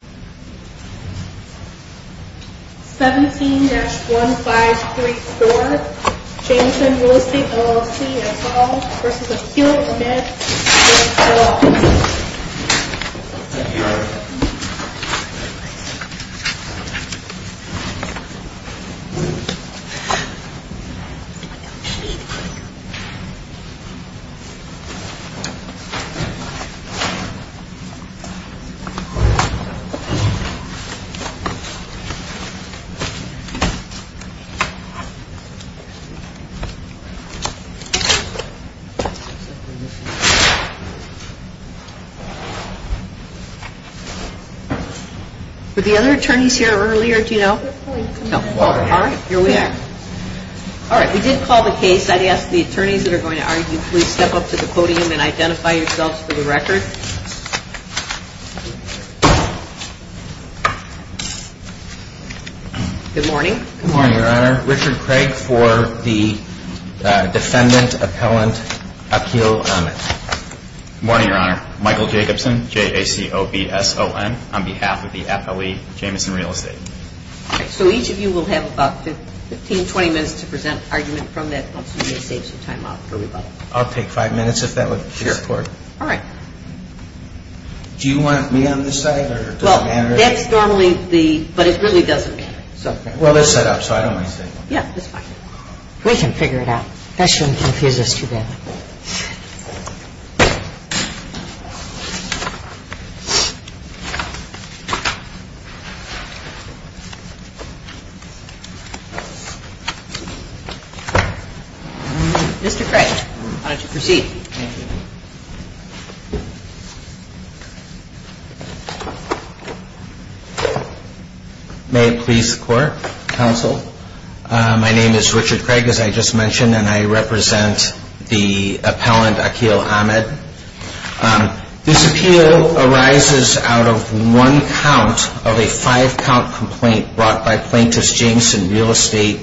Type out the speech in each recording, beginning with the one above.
17-1534, Jamestown Real Estate LLC as sold versus a field indebted to the State of Colorado. For the other attorneys here earlier, do you know? No. All right, here we are. All right, we did call the case. I'd ask the attorneys that are going to argue, please step up to the podium and identify yourselves for the record. Good morning. Good morning, Your Honor. Richard Craig for the Defendant Appellant Appeal Amendments. Good morning, Your Honor. Michael Jacobson, J-A-C-O-B-S-O-N, on behalf of the appellee, Jamestown Real Estate. All right, so each of you will have about 15, 20 minutes to present an argument from that once we have saved some time up for rebuttal. I'll take five minutes if that would be support. Sure. All right. Do you want me on this side or does it matter? Well, that's normally the, but it really doesn't matter, so. Well, it's set up, so I don't mind staying. Yeah, it's fine. We can figure it out. That shouldn't confuse us too bad. Mr. Craig, why don't you proceed? Thank you. May it please the Court, Counsel. My name is Richard Craig, as I just mentioned, and I represent the Appellant Aqeel Ahmed. This appeal arises out of one count of a five-count complaint brought by Plaintiffs Jameston Real Estate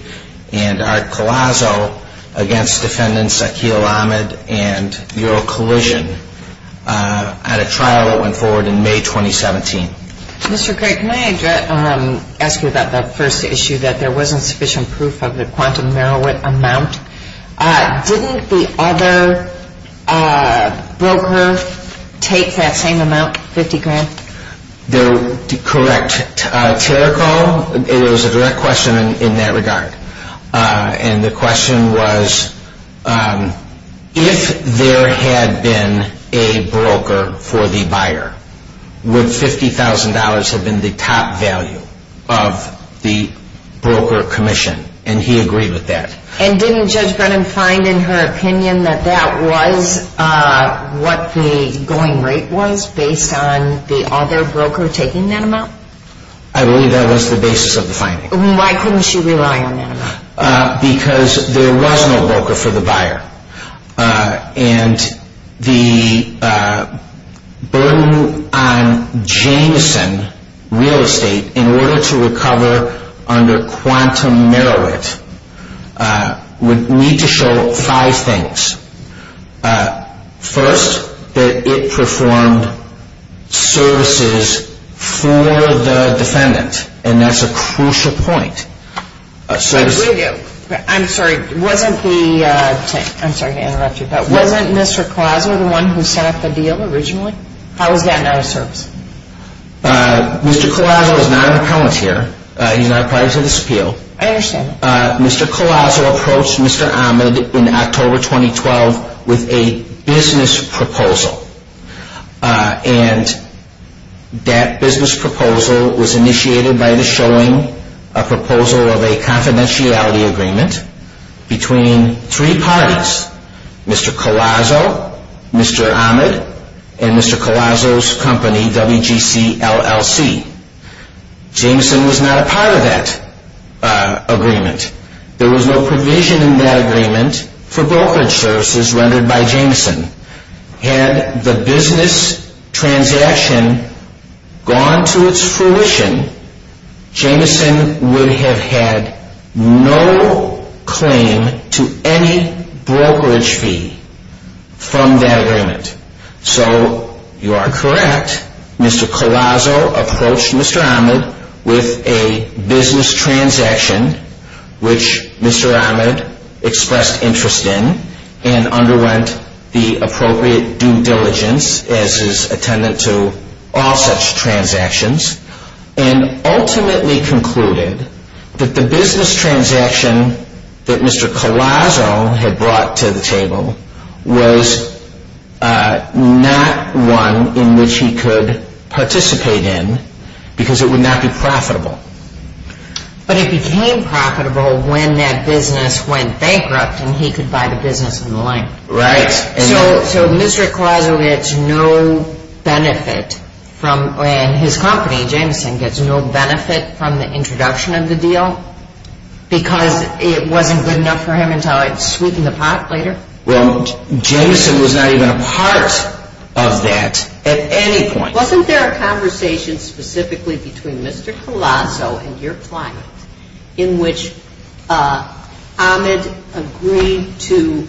and Art Colasso against Defendants Aqeel Ahmed and Euro Collision at a trial that went forward in May 2017. Mr. Craig, may I ask you about that first issue that there wasn't sufficient proof of the quantum Merowit amount? Didn't the other broker take that same amount, 50 grand? Correct. It was a direct question in that regard. And the question was, if there had been a broker for the buyer, would $50,000 have been the top value of the broker commission? And he agreed with that. And didn't Judge Brennan find in her opinion that that was what the going rate was based on the other broker taking that amount? I believe that was the basis of the finding. Why couldn't she rely on that amount? Because there was no broker for the buyer. And the burden on Jameston Real Estate in order to recover under quantum Merowit would need to show five things. First, that it performed services for the defendant. And that's a crucial point. I'm sorry to interrupt you, but wasn't Mr. Collazo the one who set up the deal originally? How is that not a service? Mr. Collazo is not an appellant here. He's not required to disappeal. I understand. Mr. Collazo approached Mr. Ahmed in October 2012 with a business proposal. And that business proposal was initiated by the showing a proposal of a confidentiality agreement between three parties. Mr. Collazo, Mr. Ahmed, and Mr. Collazo's company, WGCLLC. Jameson was not a part of that agreement. There was no provision in that agreement for brokerage services rendered by Jameson. Had the business transaction gone to its fruition, Jameson would have had no claim to any brokerage fee from that agreement. So, you are correct. Mr. Collazo approached Mr. Ahmed with a business transaction which Mr. Ahmed expressed interest in and underwent the appropriate due diligence as is attendant to all such transactions. And ultimately concluded that the business transaction that Mr. Collazo had brought to the table was not one in which he could participate in because it would not be profitable. But it became profitable when that business went bankrupt and he could buy the business in the land. Right. So, Mr. Collazo gets no benefit from, and his company, Jameson, gets no benefit from the introduction of the deal because it wasn't good enough for him until it's sweeping the pot later? Well, Jameson was not even a part of that at any point. Wasn't there a conversation specifically between Mr. Collazo and your client in which Ahmed agreed to,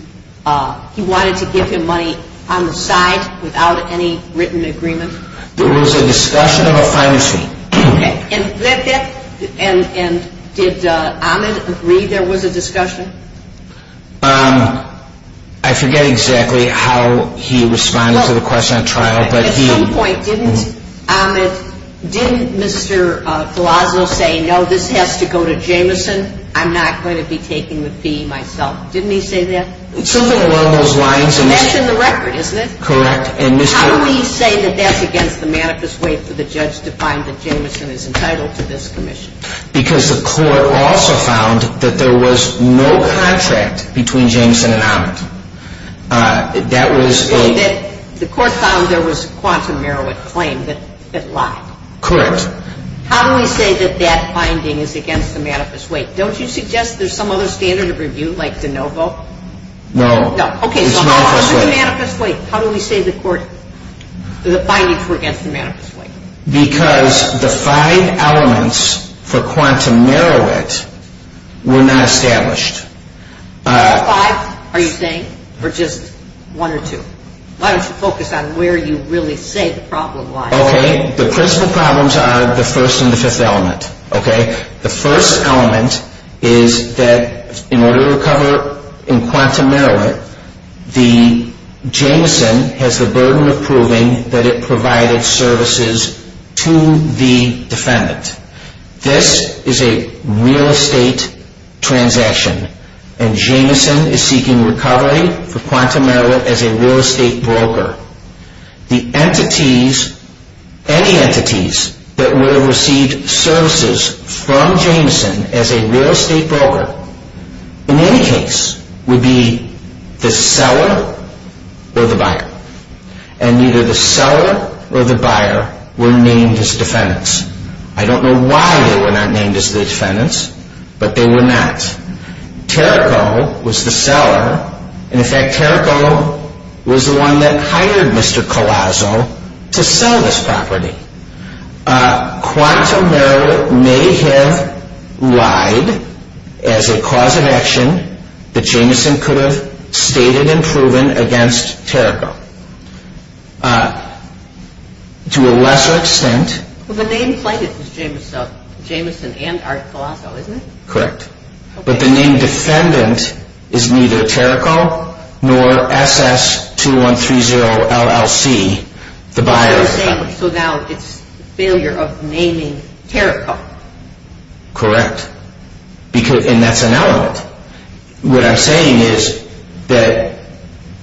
he wanted to give him money on the side without any written agreement? There was a discussion of a financing. And did Ahmed agree there was a discussion? I forget exactly how he responded to the question at trial. At some point, didn't Mr. Collazo say, no, this has to go to Jameson? I'm not going to be taking the fee myself. Didn't he say that? Something along those lines. He mentioned the record, isn't it? Correct. How do we say that that's against the manifest way for the judge to find that Jameson is entitled to this commission? Because the court also found that there was no contract between Jameson and Ahmed. That was a... The court found there was a quantum merit claim that lied. Correct. How do we say that that finding is against the manifest way? Don't you suggest there's some other standard of review, like de novo? No. Okay, so how is it the manifest way? How do we say the court, the findings were against the manifest way? Because the five elements for quantum merit were not established. What five are you saying? Or just one or two? Why don't you focus on where you really say the problem lies? Okay, the principal problems are the first and the fifth element. The first element is that in order to recover in quantum merit, the Jameson has the burden of proving that it provided services to the defendant. This is a real estate transaction, and Jameson is seeking recovery for quantum merit as a real estate broker. The entities, any entities that would have received services from Jameson as a real estate broker, in any case, would be the seller or the buyer. And neither the seller or the buyer were named as defendants. I don't know why they were not named as defendants, but they were not. Terrico was the seller, and in fact Terrico was the one that hired Mr. Colasso to sell this property. Quantum merit may have lied as a cause of action that Jameson could have stated and proven against Terrico. To a lesser extent... Well, the name plate is Jameson and Art Colasso, isn't it? Correct. But the name defendant is neither Terrico nor SS-2130-LLC, the buyer's name. So now it's a failure of naming Terrico. And that's an element. What I'm saying is that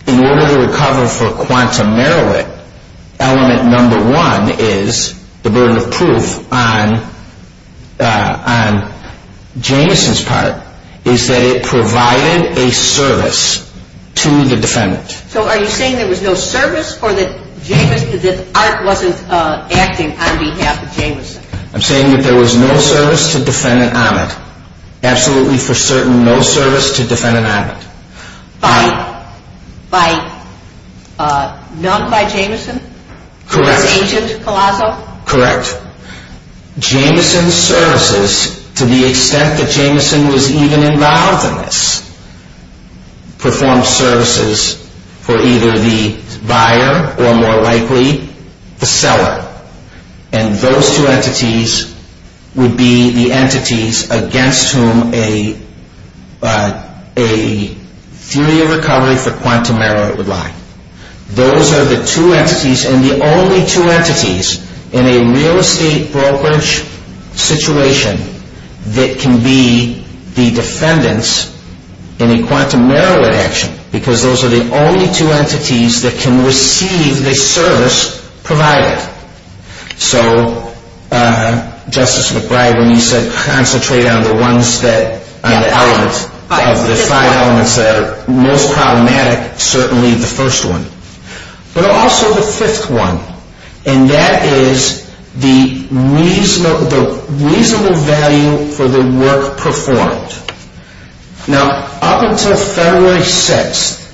in order to recover for quantum merit, element number one is the burden of proof on Jameson's part is that it provided a service to the defendant. So are you saying there was no service or that Art wasn't acting on behalf of Jameson? I'm saying that there was no service to the defendant on it. Absolutely for certain, no service to the defendant on it. None by Jameson? Correct. Agent Colasso? Correct. Jameson's services, to the extent that Jameson was even involved in this, performed services for either the buyer or more likely the seller. And those two entities would be the entities against whom a theory of recovery for quantum merit would lie. Those are the two entities and the only two entities in a real estate brokerage situation that can be the defendants in a quantum merit action. Because those are the only two entities that can receive the service provided. So Justice McBride, when you said concentrate on the five elements that are most problematic, certainly the first one. But also the fifth one, and that is the reasonable value for the work performed. Now up until February 6th,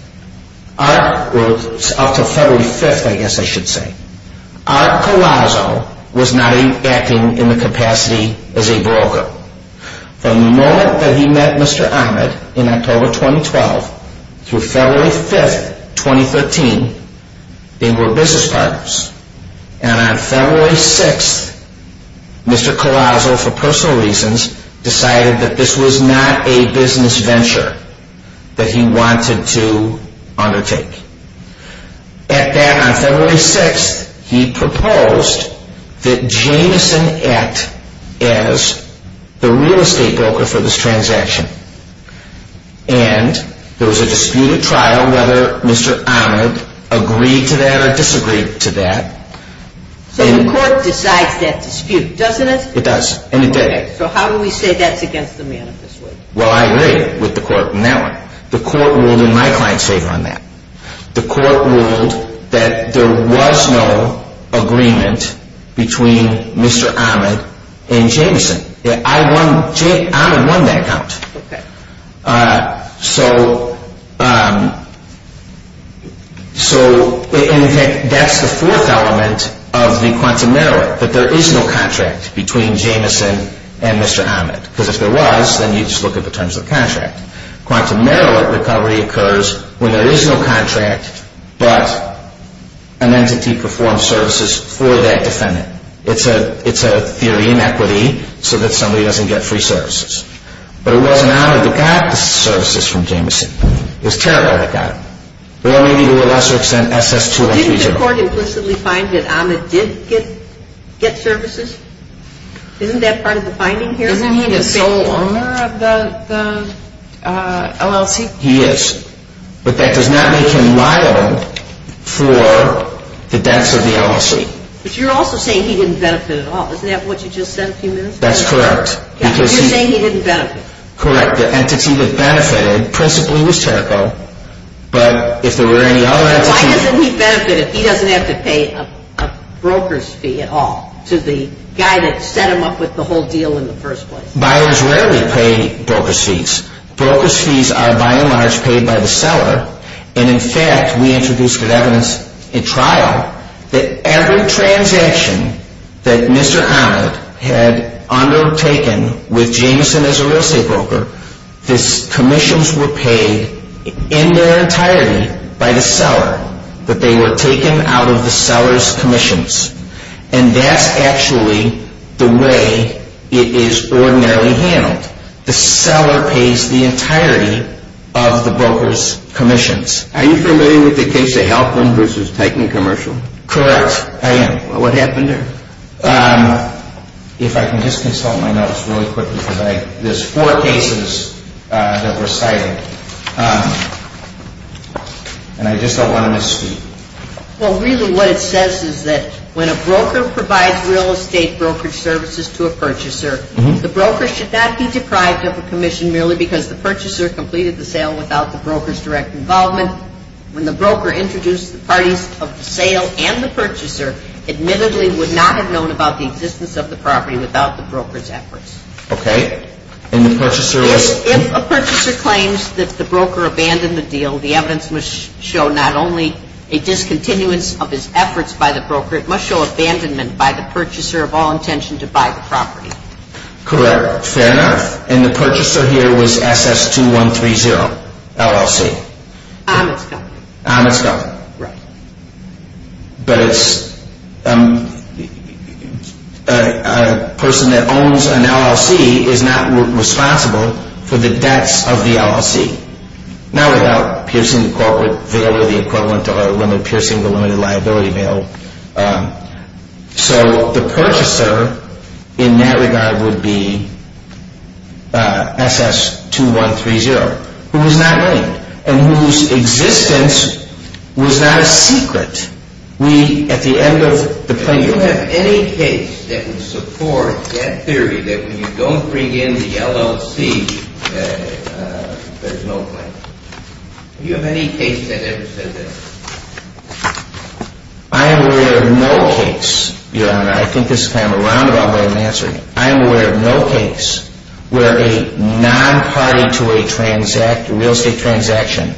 or up until February 5th I guess I should say, Art Colasso was not acting in the capacity as a broker. From the moment that he met Mr. Ahmed in October 2012 through February 5th, 2013, they were business partners. And on February 6th, Mr. Colasso, for personal reasons, decided that this was not a business venture that he wanted to undertake. At that, on February 6th, he proposed that Jameson act as the real estate broker for this transaction. And there was a disputed trial whether Mr. Ahmed agreed to that or disagreed to that. So the court decides that dispute, doesn't it? It does, and it did. So how do we say that's against the manifest way? Well, I agree with the court in that one. The court ruled in my client's favor on that. The court ruled that there was no agreement between Mr. Ahmed and Jameson. Jameson? Yeah, Ahmed won that count. Okay. So, in effect, that's the fourth element of the quantum merit, that there is no contract between Jameson and Mr. Ahmed. Because if there was, then you just look at the terms of the contract. Quantum merit recovery occurs when there is no contract, but an entity performs services for that defendant. It's a theory in equity so that somebody doesn't get free services. But it wasn't Ahmed that got the services from Jameson. It was Terrell that got them. Or maybe to a lesser extent, SS2. Didn't the court implicitly find that Ahmed did get services? Isn't that part of the finding here? Isn't he the sole owner of the LLC? He is. But that does not make him liable for the debts of the LLC. But you're also saying he didn't benefit at all. Isn't that what you just said a few minutes ago? That's correct. You're saying he didn't benefit. Correct. The entity that benefited principally was Terrell, but if there were any other entities... Why doesn't he benefit if he doesn't have to pay a broker's fee at all to the guy that set him up with the whole deal in the first place? Buyers rarely pay broker's fees. Broker's fees are, by and large, paid by the seller. And, in fact, we introduced at evidence in trial that every transaction that Mr. Ahmed had undertaken with Jameson as a real estate broker, these commissions were paid in their entirety by the seller, that they were taken out of the seller's commissions. And that's actually the way it is ordinarily handled. In fact, the seller pays the entirety of the broker's commissions. Are you familiar with the case of Halpin versus Teichman Commercial? Correct. I am. Well, what happened there? If I can just consult my notes really quickly, because there's four cases that were cited, and I just don't want to miss a beat. Well, really what it says is that when a broker provides real estate brokerage services to a purchaser, the broker should not be deprived of a commission merely because the purchaser completed the sale without the broker's direct involvement. When the broker introduced the parties of the sale and the purchaser, admittedly would not have known about the existence of the property without the broker's efforts. Okay. And the purchaser was... of his efforts by the broker. It must show abandonment by the purchaser of all intention to buy the property. Correct. Fair enough. And the purchaser here was SS2130, LLC. Amit's company. Amit's company. Right. But it's a person that owns an LLC is not responsible for the debts of the LLC, not without piercing the corporate veil or the equivalent or piercing the limited liability veil. So the purchaser in that regard would be SS2130, who was not named and whose existence was not a secret. We, at the end of the plaintiff... Do you have any case that would support that theory that when you don't bring in the LLC, there's no claim? Do you have any case that ever says that? I am aware of no case, Your Honor. I think this is kind of a roundabout way of answering it. I am aware of no case where a non-party to a real estate transaction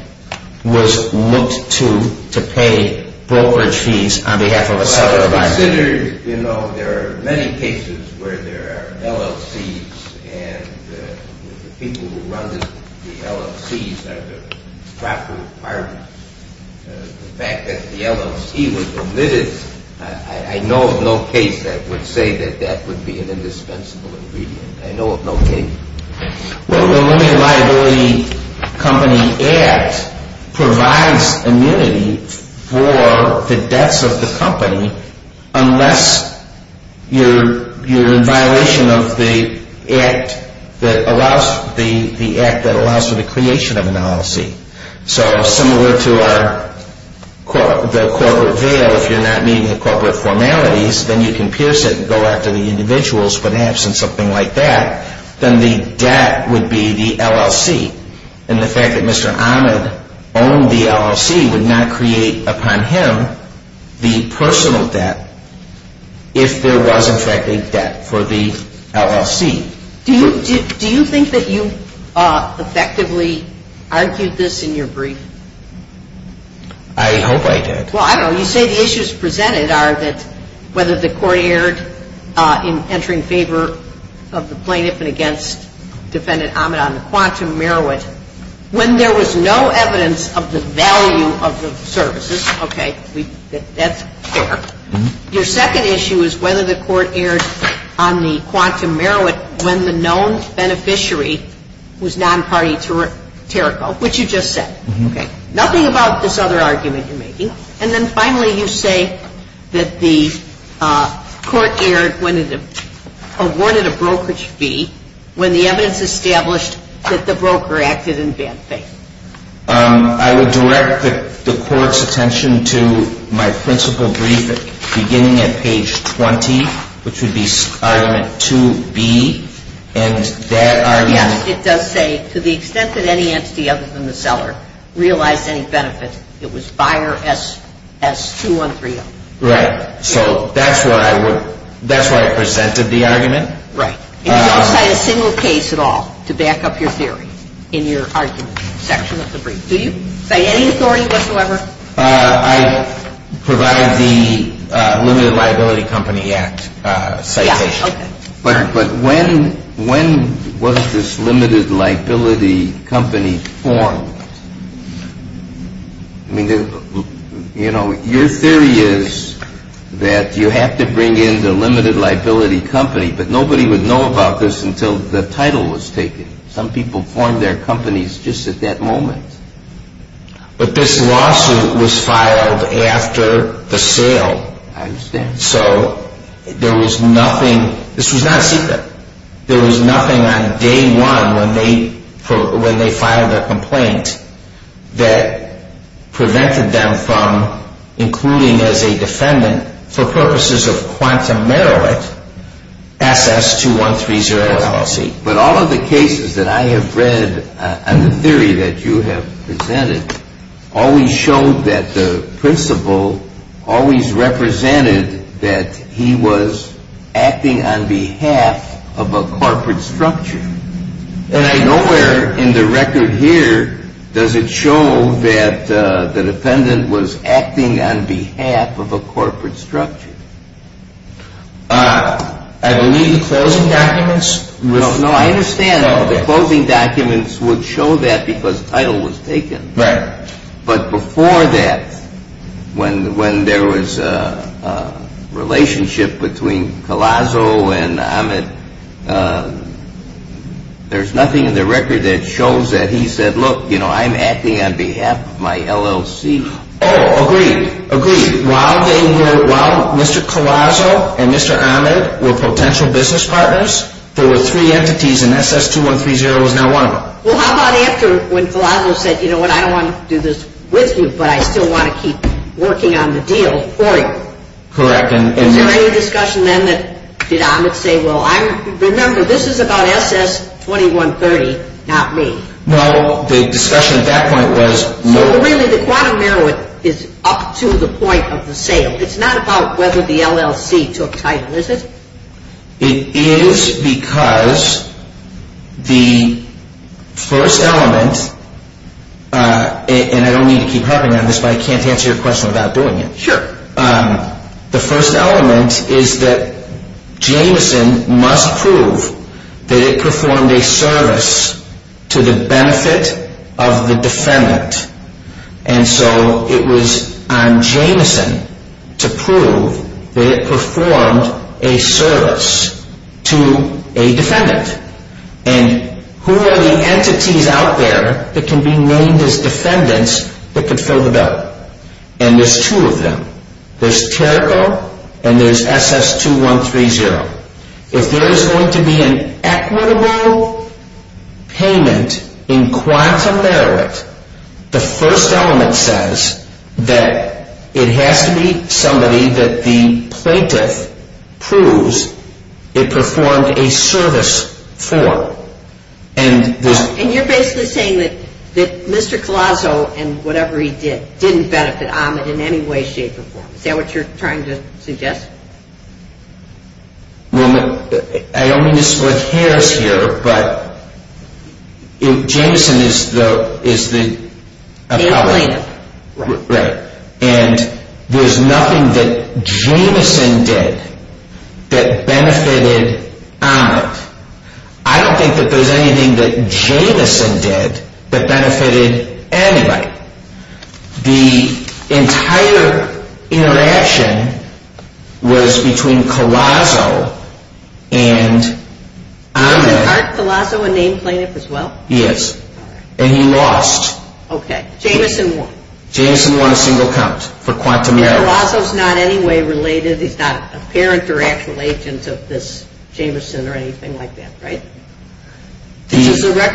was looked to to pay brokerage fees on behalf of a seller or buyer. I consider, you know, there are many cases where there are LLCs and the people who run the LLCs are the property partners. The fact that the LLC was omitted, I know of no case that would say that that would be an indispensable ingredient. I know of no case. Well, the Limited Liability Company Act provides immunity for the debts of the company unless you're in violation of the act that allows for the creation of an LLC. So similar to the corporate veil, if you're not meeting the corporate formalities, then you can pierce it and go after the individuals, perhaps, and something like that. Then the debt would be the LLC. And the fact that Mr. Ahmed owned the LLC would not create upon him the personal debt if there was, in fact, a debt for the LLC. Do you think that you effectively argued this in your brief? I hope I did. Well, I don't know. You say the issues presented are that whether the court erred in entering favor of the plaintiff and against Defendant Ahmed on the quantum meruit when there was no evidence of the value of the services. Okay. That's fair. Your second issue is whether the court erred on the quantum meruit when the known beneficiary was non-party territorial, which you just said. Okay. Nothing about this other argument you're making. And then finally, you say that the court erred when it awarded a brokerage fee when the evidence established that the broker acted in bad faith. I would direct the court's attention to my principal brief beginning at page 20, which would be argument 2B, and that argument. Yes, it does say, to the extent that any entity other than the seller realized any benefit, it was buyer SS2130. Right. So that's what I presented the argument. Right. And you don't cite a single case at all to back up your theory in your argument section of the brief, do you? Cite any authority whatsoever? I provide the Limited Liability Company Act citation. Yeah, okay. But when was this Limited Liability Company formed? I mean, you know, your theory is that you have to bring in the Limited Liability Company, but nobody would know about this until the title was taken. Some people formed their companies just at that moment. But this lawsuit was filed after the sale. I understand. So there was nothing – this was not a secret. There was nothing on day one when they filed their complaint that prevented them from including as a defendant, for purposes of quantum merit, SS2130 LLC. But all of the cases that I have read on the theory that you have presented always showed that the principal always represented that he was acting on behalf of a corporate structure. And I know where in the record here does it show that the defendant was acting on behalf of a corporate structure. I believe the closing documents – No, I understand that the closing documents would show that because the title was taken. Right. But before that, when there was a relationship between Collazo and Ahmed, there's nothing in the record that shows that he said, look, you know, I'm acting on behalf of my LLC. Oh, agreed. Agreed. And while they were – while Mr. Collazo and Mr. Ahmed were potential business partners, there were three entities and SS2130 was not one of them. Well, how about after when Collazo said, you know what, I don't want to do this with you, but I still want to keep working on the deal for you? Correct. Is there any discussion then that did Ahmed say, well, remember, this is about SS2130, not me? Well, the discussion at that point was – Really, the quantum merit is up to the point of the sale. It's not about whether the LLC took title, is it? It is because the first element – and I don't need to keep harping on this, but I can't answer your question without doing it. Sure. The first element is that Jameson must prove that it performed a service to the benefit of the defendant. And so it was on Jameson to prove that it performed a service to a defendant. And who are the entities out there that can be named as defendants that could fill the bill? And there's two of them. There's Terco and there's SS2130. If there is going to be an equitable payment in quantum merit, the first element says that it has to be somebody that the plaintiff proves it performed a service for. And you're basically saying that Mr. Calazo and whatever he did didn't benefit Ahmed in any way, shape, or form. Is that what you're trying to suggest? I don't mean to split hairs here, but Jameson is the appellate. The plaintiff. Right. And there's nothing that Jameson did that benefited Ahmed. I don't think that there's anything that Jameson did that benefited anybody. The entire interaction was between Calazo and Ahmed. Wasn't Art Calazo a named plaintiff as well? He is. And he lost. Okay. Jameson won. Jameson won a single count for quantum merit. Calazo's not in any way related. He's not a parent or actual agent of this Jameson or anything like that, right? To the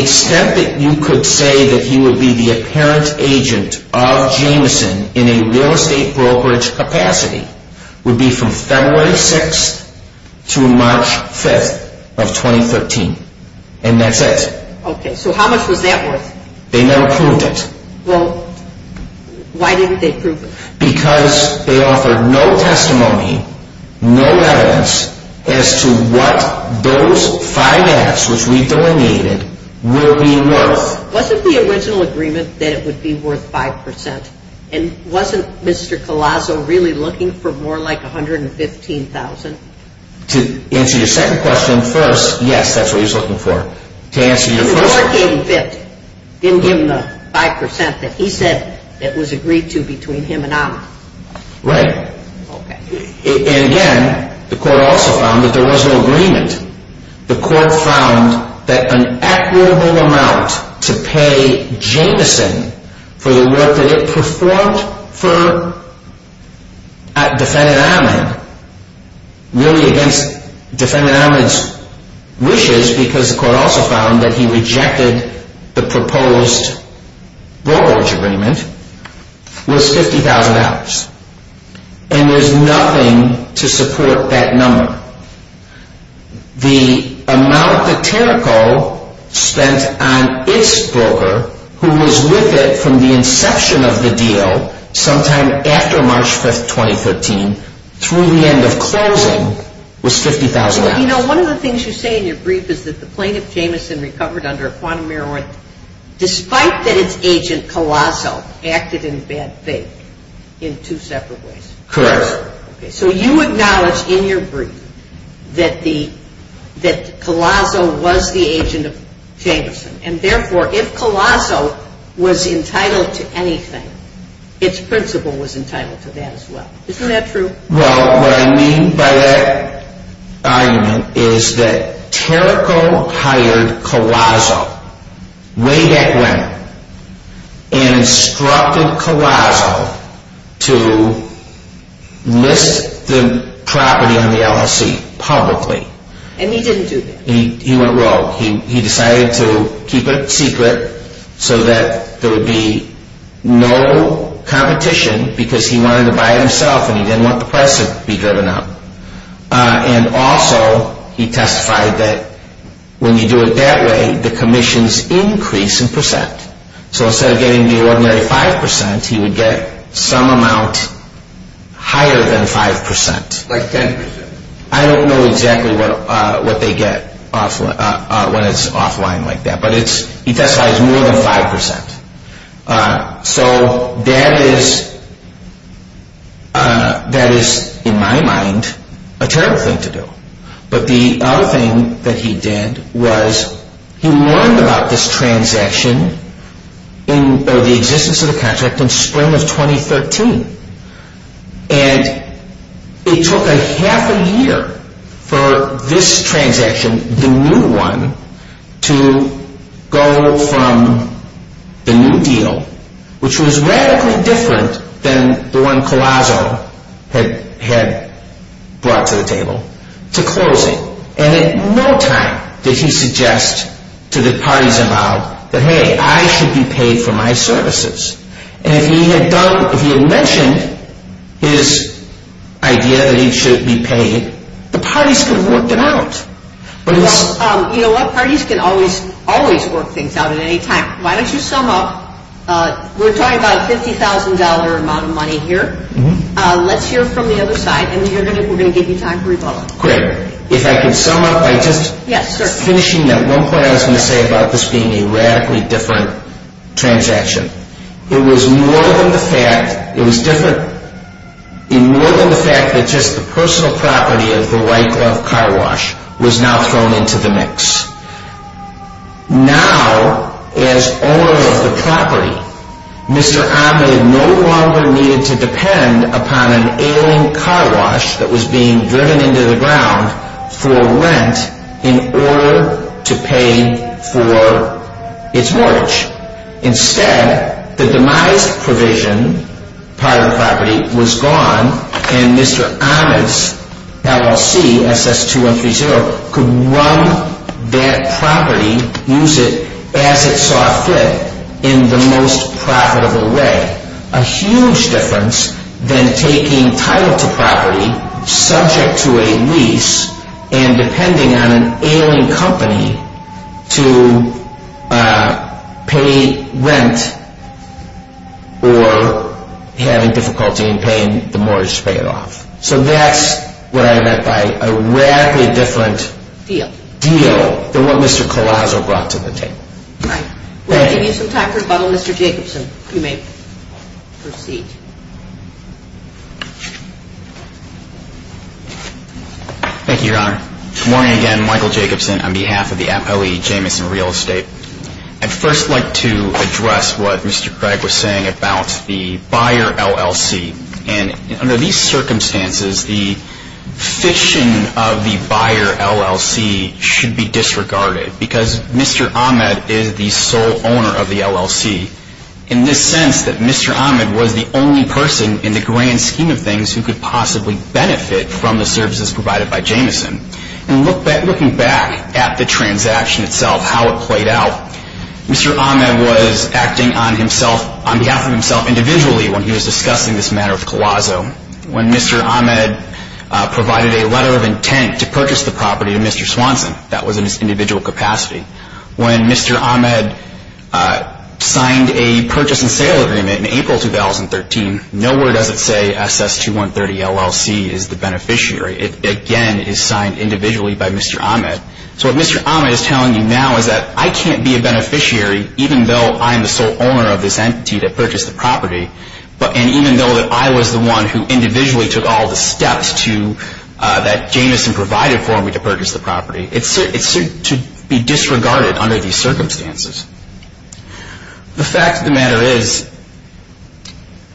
extent that you could say that he would be the apparent agent of Jameson in a real estate brokerage capacity would be from February 6th to March 5th of 2013. And that's it. Okay. So how much was that worth? They never proved it. Well, why didn't they prove it? Because they offered no testimony, no evidence as to what those five acts which we delineated will be worth. Wasn't the original agreement that it would be worth 5%? And wasn't Mr. Calazo really looking for more like $115,000? To answer your second question, first, yes, that's what he was looking for. The court gave him 50, didn't give him the 5% that he said that was agreed to between him and Ammon. Right. Okay. And again, the court also found that there was no agreement. The court found that an equitable amount to pay Jameson for the work that it performed for Defendant Ammon, really against Defendant Ammon's wishes because the court also found that he rejected the proposed brokerage agreement, was $50,000. And there's nothing to support that number. The amount that Terrico spent on its broker, who was with it from the inception of the deal sometime after March 5th, 2013, through the end of closing, was $50,000. So, you know, one of the things you say in your brief is that the plaintiff, Jameson, recovered under a quantum error, despite that its agent, Calazo, acted in bad faith in two separate ways. Correct. So you acknowledge in your brief that Calazo was the agent of Jameson, and therefore if Calazo was entitled to anything, its principal was entitled to that as well. Isn't that true? Well, what I mean by that argument is that Terrico hired Calazo way back when and instructed Calazo to list the property on the LLC publicly. And he didn't do that. He went rogue. He decided to keep it secret so that there would be no competition because he wanted to buy it himself and he didn't want the price to be driven up. And also, he testified that when you do it that way, the commissions increase in percent. So instead of getting the ordinary 5%, he would get some amount higher than 5%. Like 10%. I don't know exactly what they get when it's offline like that, but he testifies more than 5%. So that is, in my mind, a terrible thing to do. But the other thing that he did was he learned about this transaction or the existence of the contract in spring of 2013. And it took a half a year for this transaction, the new one, to go from the new deal, which was radically different than the one Calazo had brought to the table, to closing. And in no time did he suggest to the parties involved that, hey, I should be paid for my services. And if he had mentioned his idea that he should be paid, the parties could have worked it out. Well, you know what? Parties can always, always work things out at any time. Why don't you sum up? We're talking about a $50,000 amount of money here. Let's hear from the other side and then we're going to give you time to rebuttal. Great. If I could sum up by just finishing that one point I was going to say about this being a radically different transaction. It was more than the fact that just the personal property of the white glove car wash was now thrown into the mix. Now, as owner of the property, Mr. Ahmed no longer needed to depend upon an ailing car wash that was being driven into the ground for rent in order to pay for its mortgage. Instead, the demise provision part of the property was gone and Mr. Ahmed's LLC, SS2130, could run that property, use it as it saw fit, in the most profitable way. A huge difference than taking title to property subject to a lease and depending on an ailing company to pay rent or having difficulty in paying the mortgage to pay it off. So that's what I meant by a radically different deal than what Mr. Collazo brought to the table. All right. We're going to give you some time for rebuttal. Mr. Jacobson, you may proceed. Thank you, Your Honor. Good morning again. Michael Jacobson on behalf of the APOE Jamison Real Estate. I'd first like to address what Mr. Craig was saying about the buyer LLC. And under these circumstances, the fishing of the buyer LLC should be disregarded because Mr. Ahmed is the sole owner of the LLC in the sense that Mr. Ahmed was the only person in the grand scheme of things who could possibly benefit from the services provided by Jamison. And looking back at the transaction itself, how it played out, Mr. Ahmed was acting on behalf of himself individually when he was discussing this matter with Collazo. When Mr. Ahmed provided a letter of intent to purchase the property to Mr. Swanson, that was in his individual capacity. When Mr. Ahmed signed a purchase and sale agreement in April 2013, nowhere does it say SS2130 LLC is the beneficiary. It again is signed individually by Mr. Ahmed. So what Mr. Ahmed is telling you now is that I can't be a beneficiary even though I am the sole owner of this entity that purchased the property, and even though I was the one who individually took all the steps that Jamison provided for me to purchase the property. It's to be disregarded under these circumstances. The fact of the matter is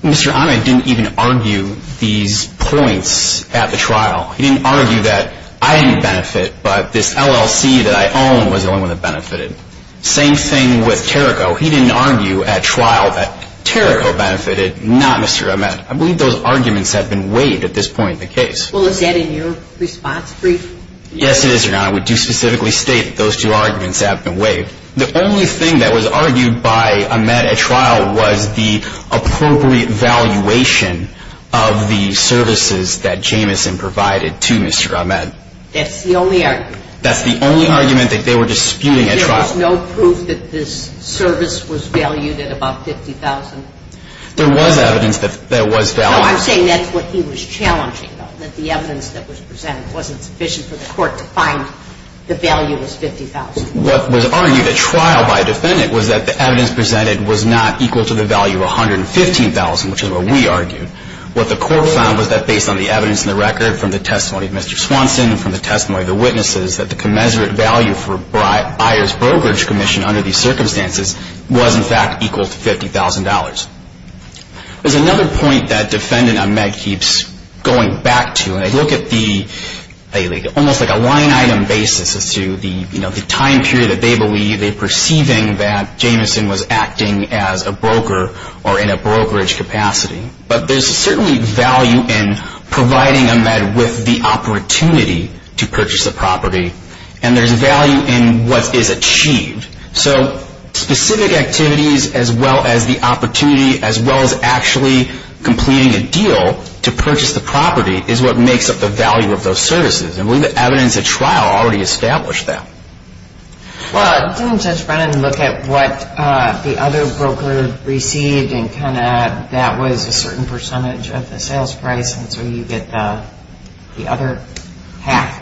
Mr. Ahmed didn't even argue these points at the trial. He didn't argue that I didn't benefit, but this LLC that I own was the only one that benefited. Same thing with Terrico. He didn't argue at trial that Terrico benefited, not Mr. Ahmed. I believe those arguments have been waived at this point in the case. Well, is that in your response brief? Yes, it is, Your Honor. We do specifically state that those two arguments have been waived. The only thing that was argued by Ahmed at trial was the appropriate valuation of the services that Jamison provided to Mr. Ahmed. That's the only argument. That's the only argument that they were disputing at trial. There was no proof that this service was valued at about $50,000. There was evidence that it was valued. No, I'm saying that's what he was challenging, though, that the evidence that was presented wasn't sufficient for the court to find the value was $50,000. What was argued at trial by a defendant was that the evidence presented was not equal to the value of $115,000, which is what we argued. What the court found was that based on the evidence in the record from the testimony of Mr. Swanson and from the testimony of the witnesses, that the commensurate value for Byers Brokerage Commission under these circumstances was, in fact, equal to $50,000. There's another point that Defendant Ahmed keeps going back to, and I look at the almost like a line-item basis as to the time period that they believe, they're perceiving that Jamison was acting as a broker or in a brokerage capacity. But there's certainly value in providing Ahmed with the opportunity to purchase the property, and there's value in what is achieved. So specific activities, as well as the opportunity, as well as actually completing a deal to purchase the property, is what makes up the value of those services, and we have evidence at trial already established that. Well, didn't Judge Brennan look at what the other broker received and kind of add that was a certain percentage of the sales price, and so you get the other half?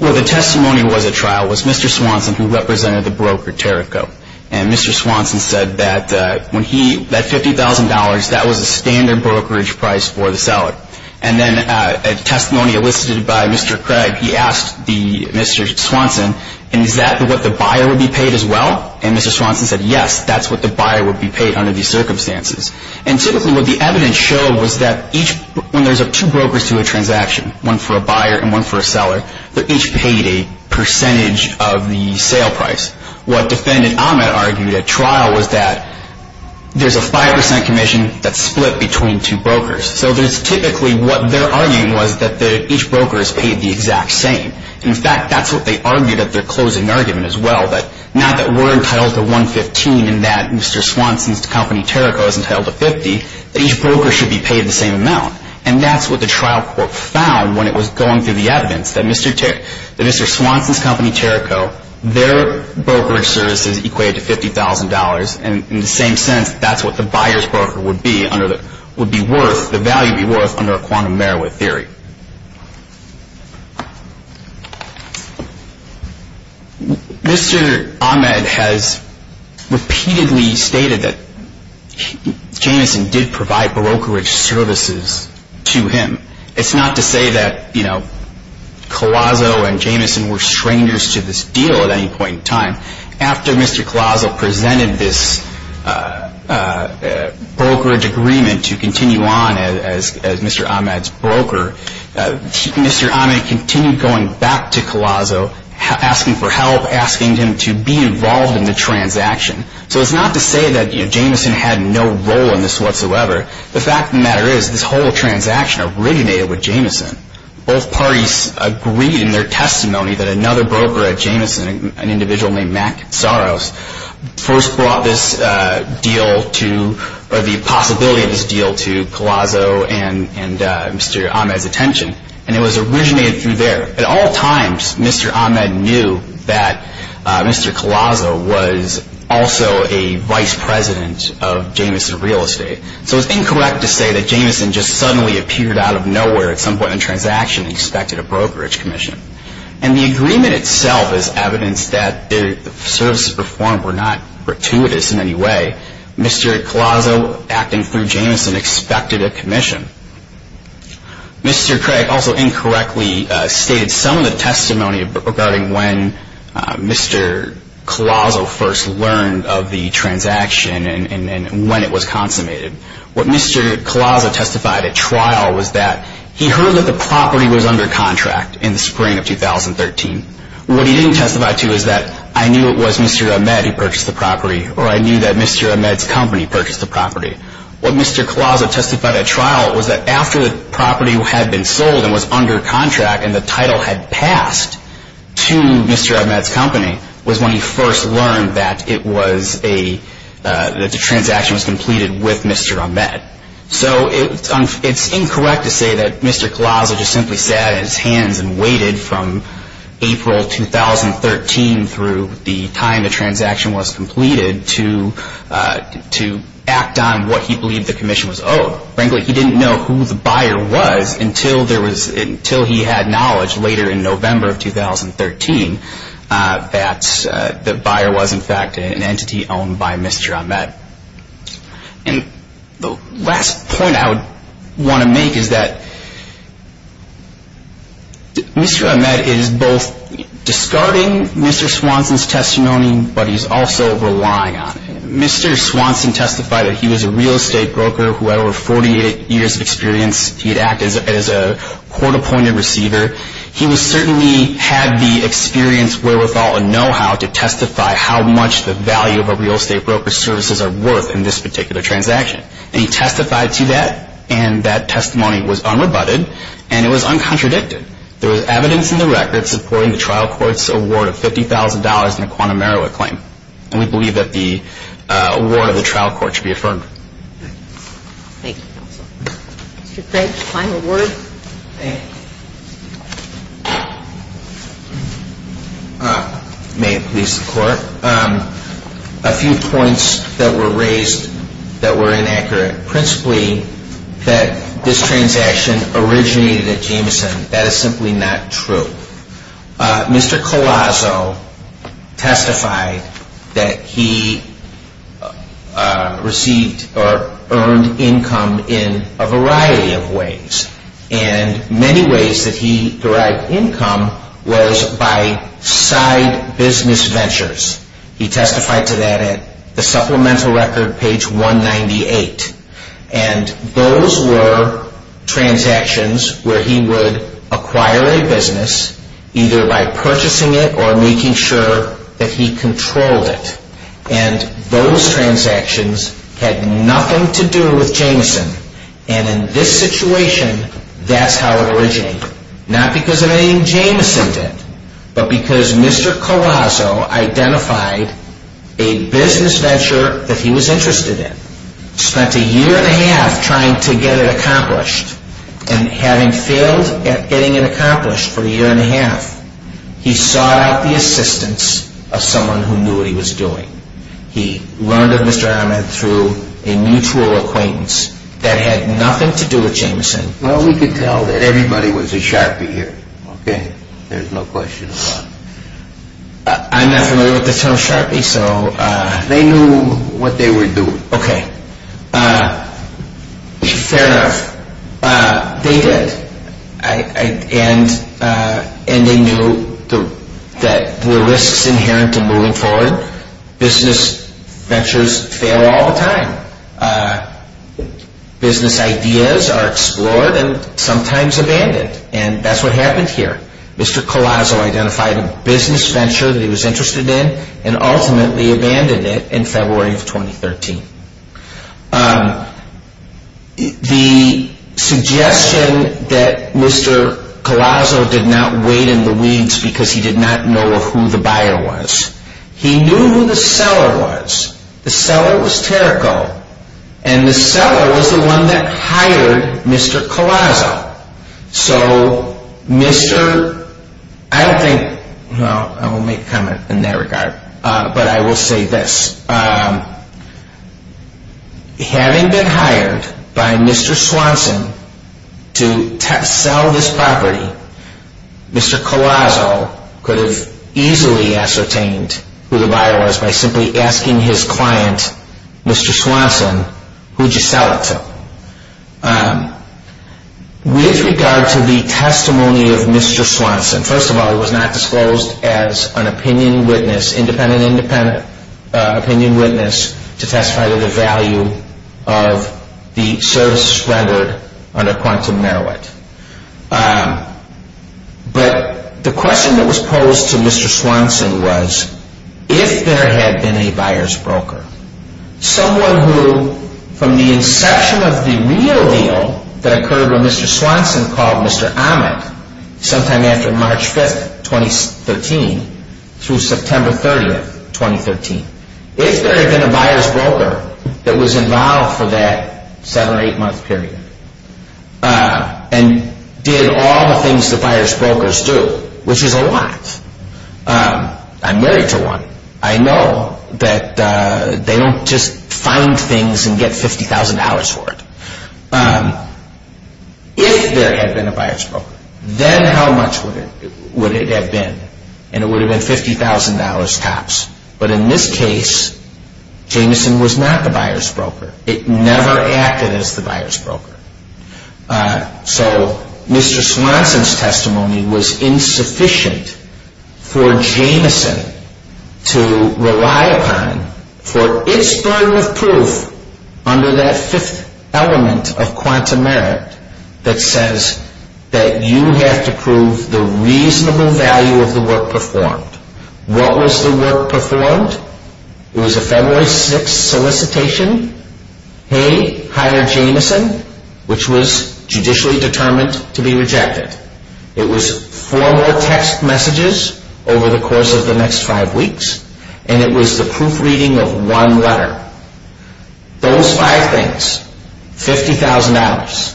Well, the testimony was at trial was Mr. Swanson, who represented the broker, Terrico, and Mr. Swanson said that when he, that $50,000, that was a standard brokerage price for the seller. And then a testimony elicited by Mr. Craig, he asked Mr. Swanson, is that what the buyer would be paid as well? And Mr. Swanson said, yes, that's what the buyer would be paid under these circumstances. And typically what the evidence showed was that each, when there's two brokers to a transaction, one for a buyer and one for a seller, they're each paid a percentage of the sale price. What Defendant Ahmed argued at trial was that there's a 5% commission that's split between two brokers. So there's typically what their argument was that each broker is paid the exact same. In fact, that's what they argued at their closing argument as well, that now that we're entitled to $115 and that Mr. Swanson's company, Terrico, is entitled to $50, that each broker should be paid the same amount. And that's what the trial court found when it was going through the evidence, that Mr. Swanson's company, Terrico, their brokerage services equate to $50,000, and in the same sense, that's what the buyer's broker would be worth, the value would be worth, under a quantum merit theory. Mr. Ahmed has repeatedly stated that Jamison did provide brokerage services to him. It's not to say that Collazo and Jamison were strangers to this deal at any point in time. After Mr. Collazo presented this brokerage agreement to continue on as Mr. Ahmed's broker, Mr. Ahmed continued going back to Collazo, asking for help, asking him to be involved in the transaction. So it's not to say that Jamison had no role in this whatsoever. The fact of the matter is this whole transaction originated with Jamison. Both parties agreed in their testimony that another broker at Jamison, an individual named Mac Saros, first brought this deal to, or the possibility of this deal to Collazo and Mr. Ahmed's attention, and it was originated through there. At all times, Mr. Ahmed knew that Mr. Collazo was also a vice president of Jamison Real Estate. So it's incorrect to say that Jamison just suddenly appeared out of nowhere at some point in the transaction and expected a brokerage commission. And the agreement itself is evidence that the services performed were not gratuitous in any way. Mr. Collazo, acting through Jamison, expected a commission. Mr. Craig also incorrectly stated some of the testimony regarding when Mr. Collazo first learned of the transaction and when it was consummated. What Mr. Collazo testified at trial was that he heard that the property was under contract in the spring of 2013. What he didn't testify to is that I knew it was Mr. Ahmed who purchased the property or I knew that Mr. Ahmed's company purchased the property. What Mr. Collazo testified at trial was that after the property had been sold and was under contract and the title had passed to Mr. Ahmed's company was when he first learned that the transaction was completed with Mr. Ahmed. So it's incorrect to say that Mr. Collazo just simply sat at his hands and waited from April 2013 through the time the transaction was completed to act on what he believed the commission was owed. Frankly, he didn't know who the buyer was until he had knowledge later in November of 2013 that the buyer was in fact an entity owned by Mr. Ahmed. The last point I would want to make is that Mr. Ahmed is both discarding Mr. Swanson's testimony but he's also relying on it. Mr. Swanson testified that he was a real estate broker who had over 48 years of experience. He had acted as a court-appointed receiver. He certainly had the experience, wherewithal and know-how to testify how much the value of a real estate broker's services are worth in this particular transaction. And he testified to that and that testimony was unrebutted and it was uncontradicted. There was evidence in the record supporting the trial court's award of $50,000 in a quantum merit claim. And we believe that the award of the trial court should be affirmed. Thank you, counsel. Mr. Craig, final word. May it please the Court. A few points that were raised that were inaccurate, principally that this transaction originated at Jameson. That is simply not true. Mr. Collazo testified that he received or earned income in a variety of ways. And many ways that he derived income was by side business ventures. He testified to that at the supplemental record, page 198. And those were transactions where he would acquire a business either by purchasing it or making sure that he controlled it. And those transactions had nothing to do with Jameson. And in this situation, that's how it originated. Not because of anything Jameson did, but because Mr. Collazo identified a business venture that he was interested in. Spent a year and a half trying to get it accomplished. And having failed at getting it accomplished for a year and a half, he sought out the assistance of someone who knew what he was doing. He learned of Mr. Ahmed through a mutual acquaintance that had nothing to do with Jameson. Well, we can tell that everybody was a Sharpie here. Okay? There's no question about it. I'm not familiar with the term Sharpie, so... They knew what they were doing. Okay. Fair enough. They did. And they knew that there were risks inherent to moving forward. Business ventures fail all the time. Business ideas are explored and sometimes abandoned. And that's what happened here. Mr. Collazo identified a business venture that he was interested in and ultimately abandoned it in February of 2013. The suggestion that Mr. Collazo did not wait in the weeds because he did not know who the buyer was. He knew who the seller was. The seller was Terrico. And the seller was the one that hired Mr. Collazo. So, Mr... I don't think... Well, I won't make a comment in that regard. But I will say this. Having been hired by Mr. Swanson to sell this property, Mr. Collazo could have easily ascertained who the buyer was by simply asking his client, Mr. Swanson, who would you sell it to? With regard to the testimony of Mr. Swanson, first of all, it was not disclosed as an opinion witness, independent-independent opinion witness, to testify to the value of the services rendered under Quantum Meroweth. But the question that was posed to Mr. Swanson was, if there had been a buyer's broker, someone who, from the inception of the real deal that occurred when Mr. Swanson called Mr. Ahmed, sometime after March 5th, 2013, through September 30th, 2013, if there had been a buyer's broker that was involved for that seven or eight month period and did all the things the buyer's brokers do, which is a lot. I'm married to one. I know that they don't just find things and get $50,000 for it. If there had been a buyer's broker, then how much would it have been? And it would have been $50,000 tops. But in this case, Jamison was not the buyer's broker. It never acted as the buyer's broker. So Mr. Swanson's testimony was insufficient for Jamison to rely upon for its burden of proof under that fifth element of Quantum Meroweth that says that you have to prove the reasonable value of the work performed. What was the work performed? It was a February 6th solicitation. Hey, hire Jamison, which was judicially determined to be rejected. It was four more text messages over the course of the next five weeks, and it was the proofreading of one letter. Those five things, $50,000.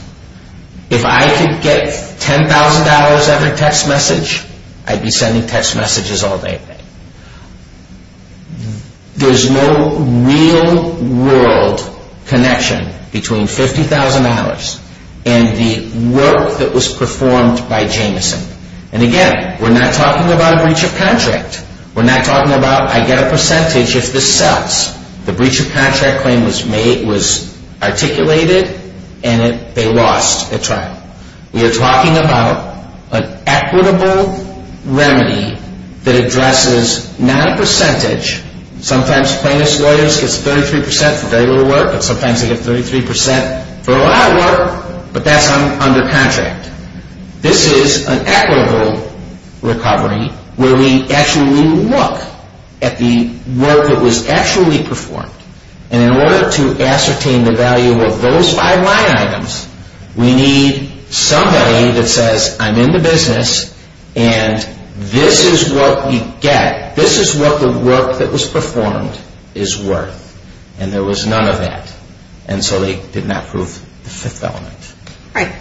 If I could get $10,000 every text message, I'd be sending text messages all day. There's no real-world connection between $50,000 and the work that was performed by Jamison. And again, we're not talking about a breach of contract. We're not talking about I get a percentage if this sells. The breach of contract claim was articulated, and they lost at trial. We are talking about an equitable remedy that addresses not a percentage. Sometimes plaintiff's lawyers get 33% for very little work, but sometimes they get 33% for a lot of work, but that's under contract. This is an equitable recovery where we actually look at the work that was actually performed. And in order to ascertain the value of those five line items, we need somebody that says, I'm in the business, and this is what we get. This is what the work that was performed is worth. And there was none of that. And so they did not prove the fifth element. All right.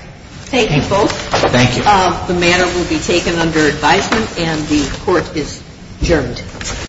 Thank you both. Thank you. The matter will be taken under advisement, and the court is adjourned.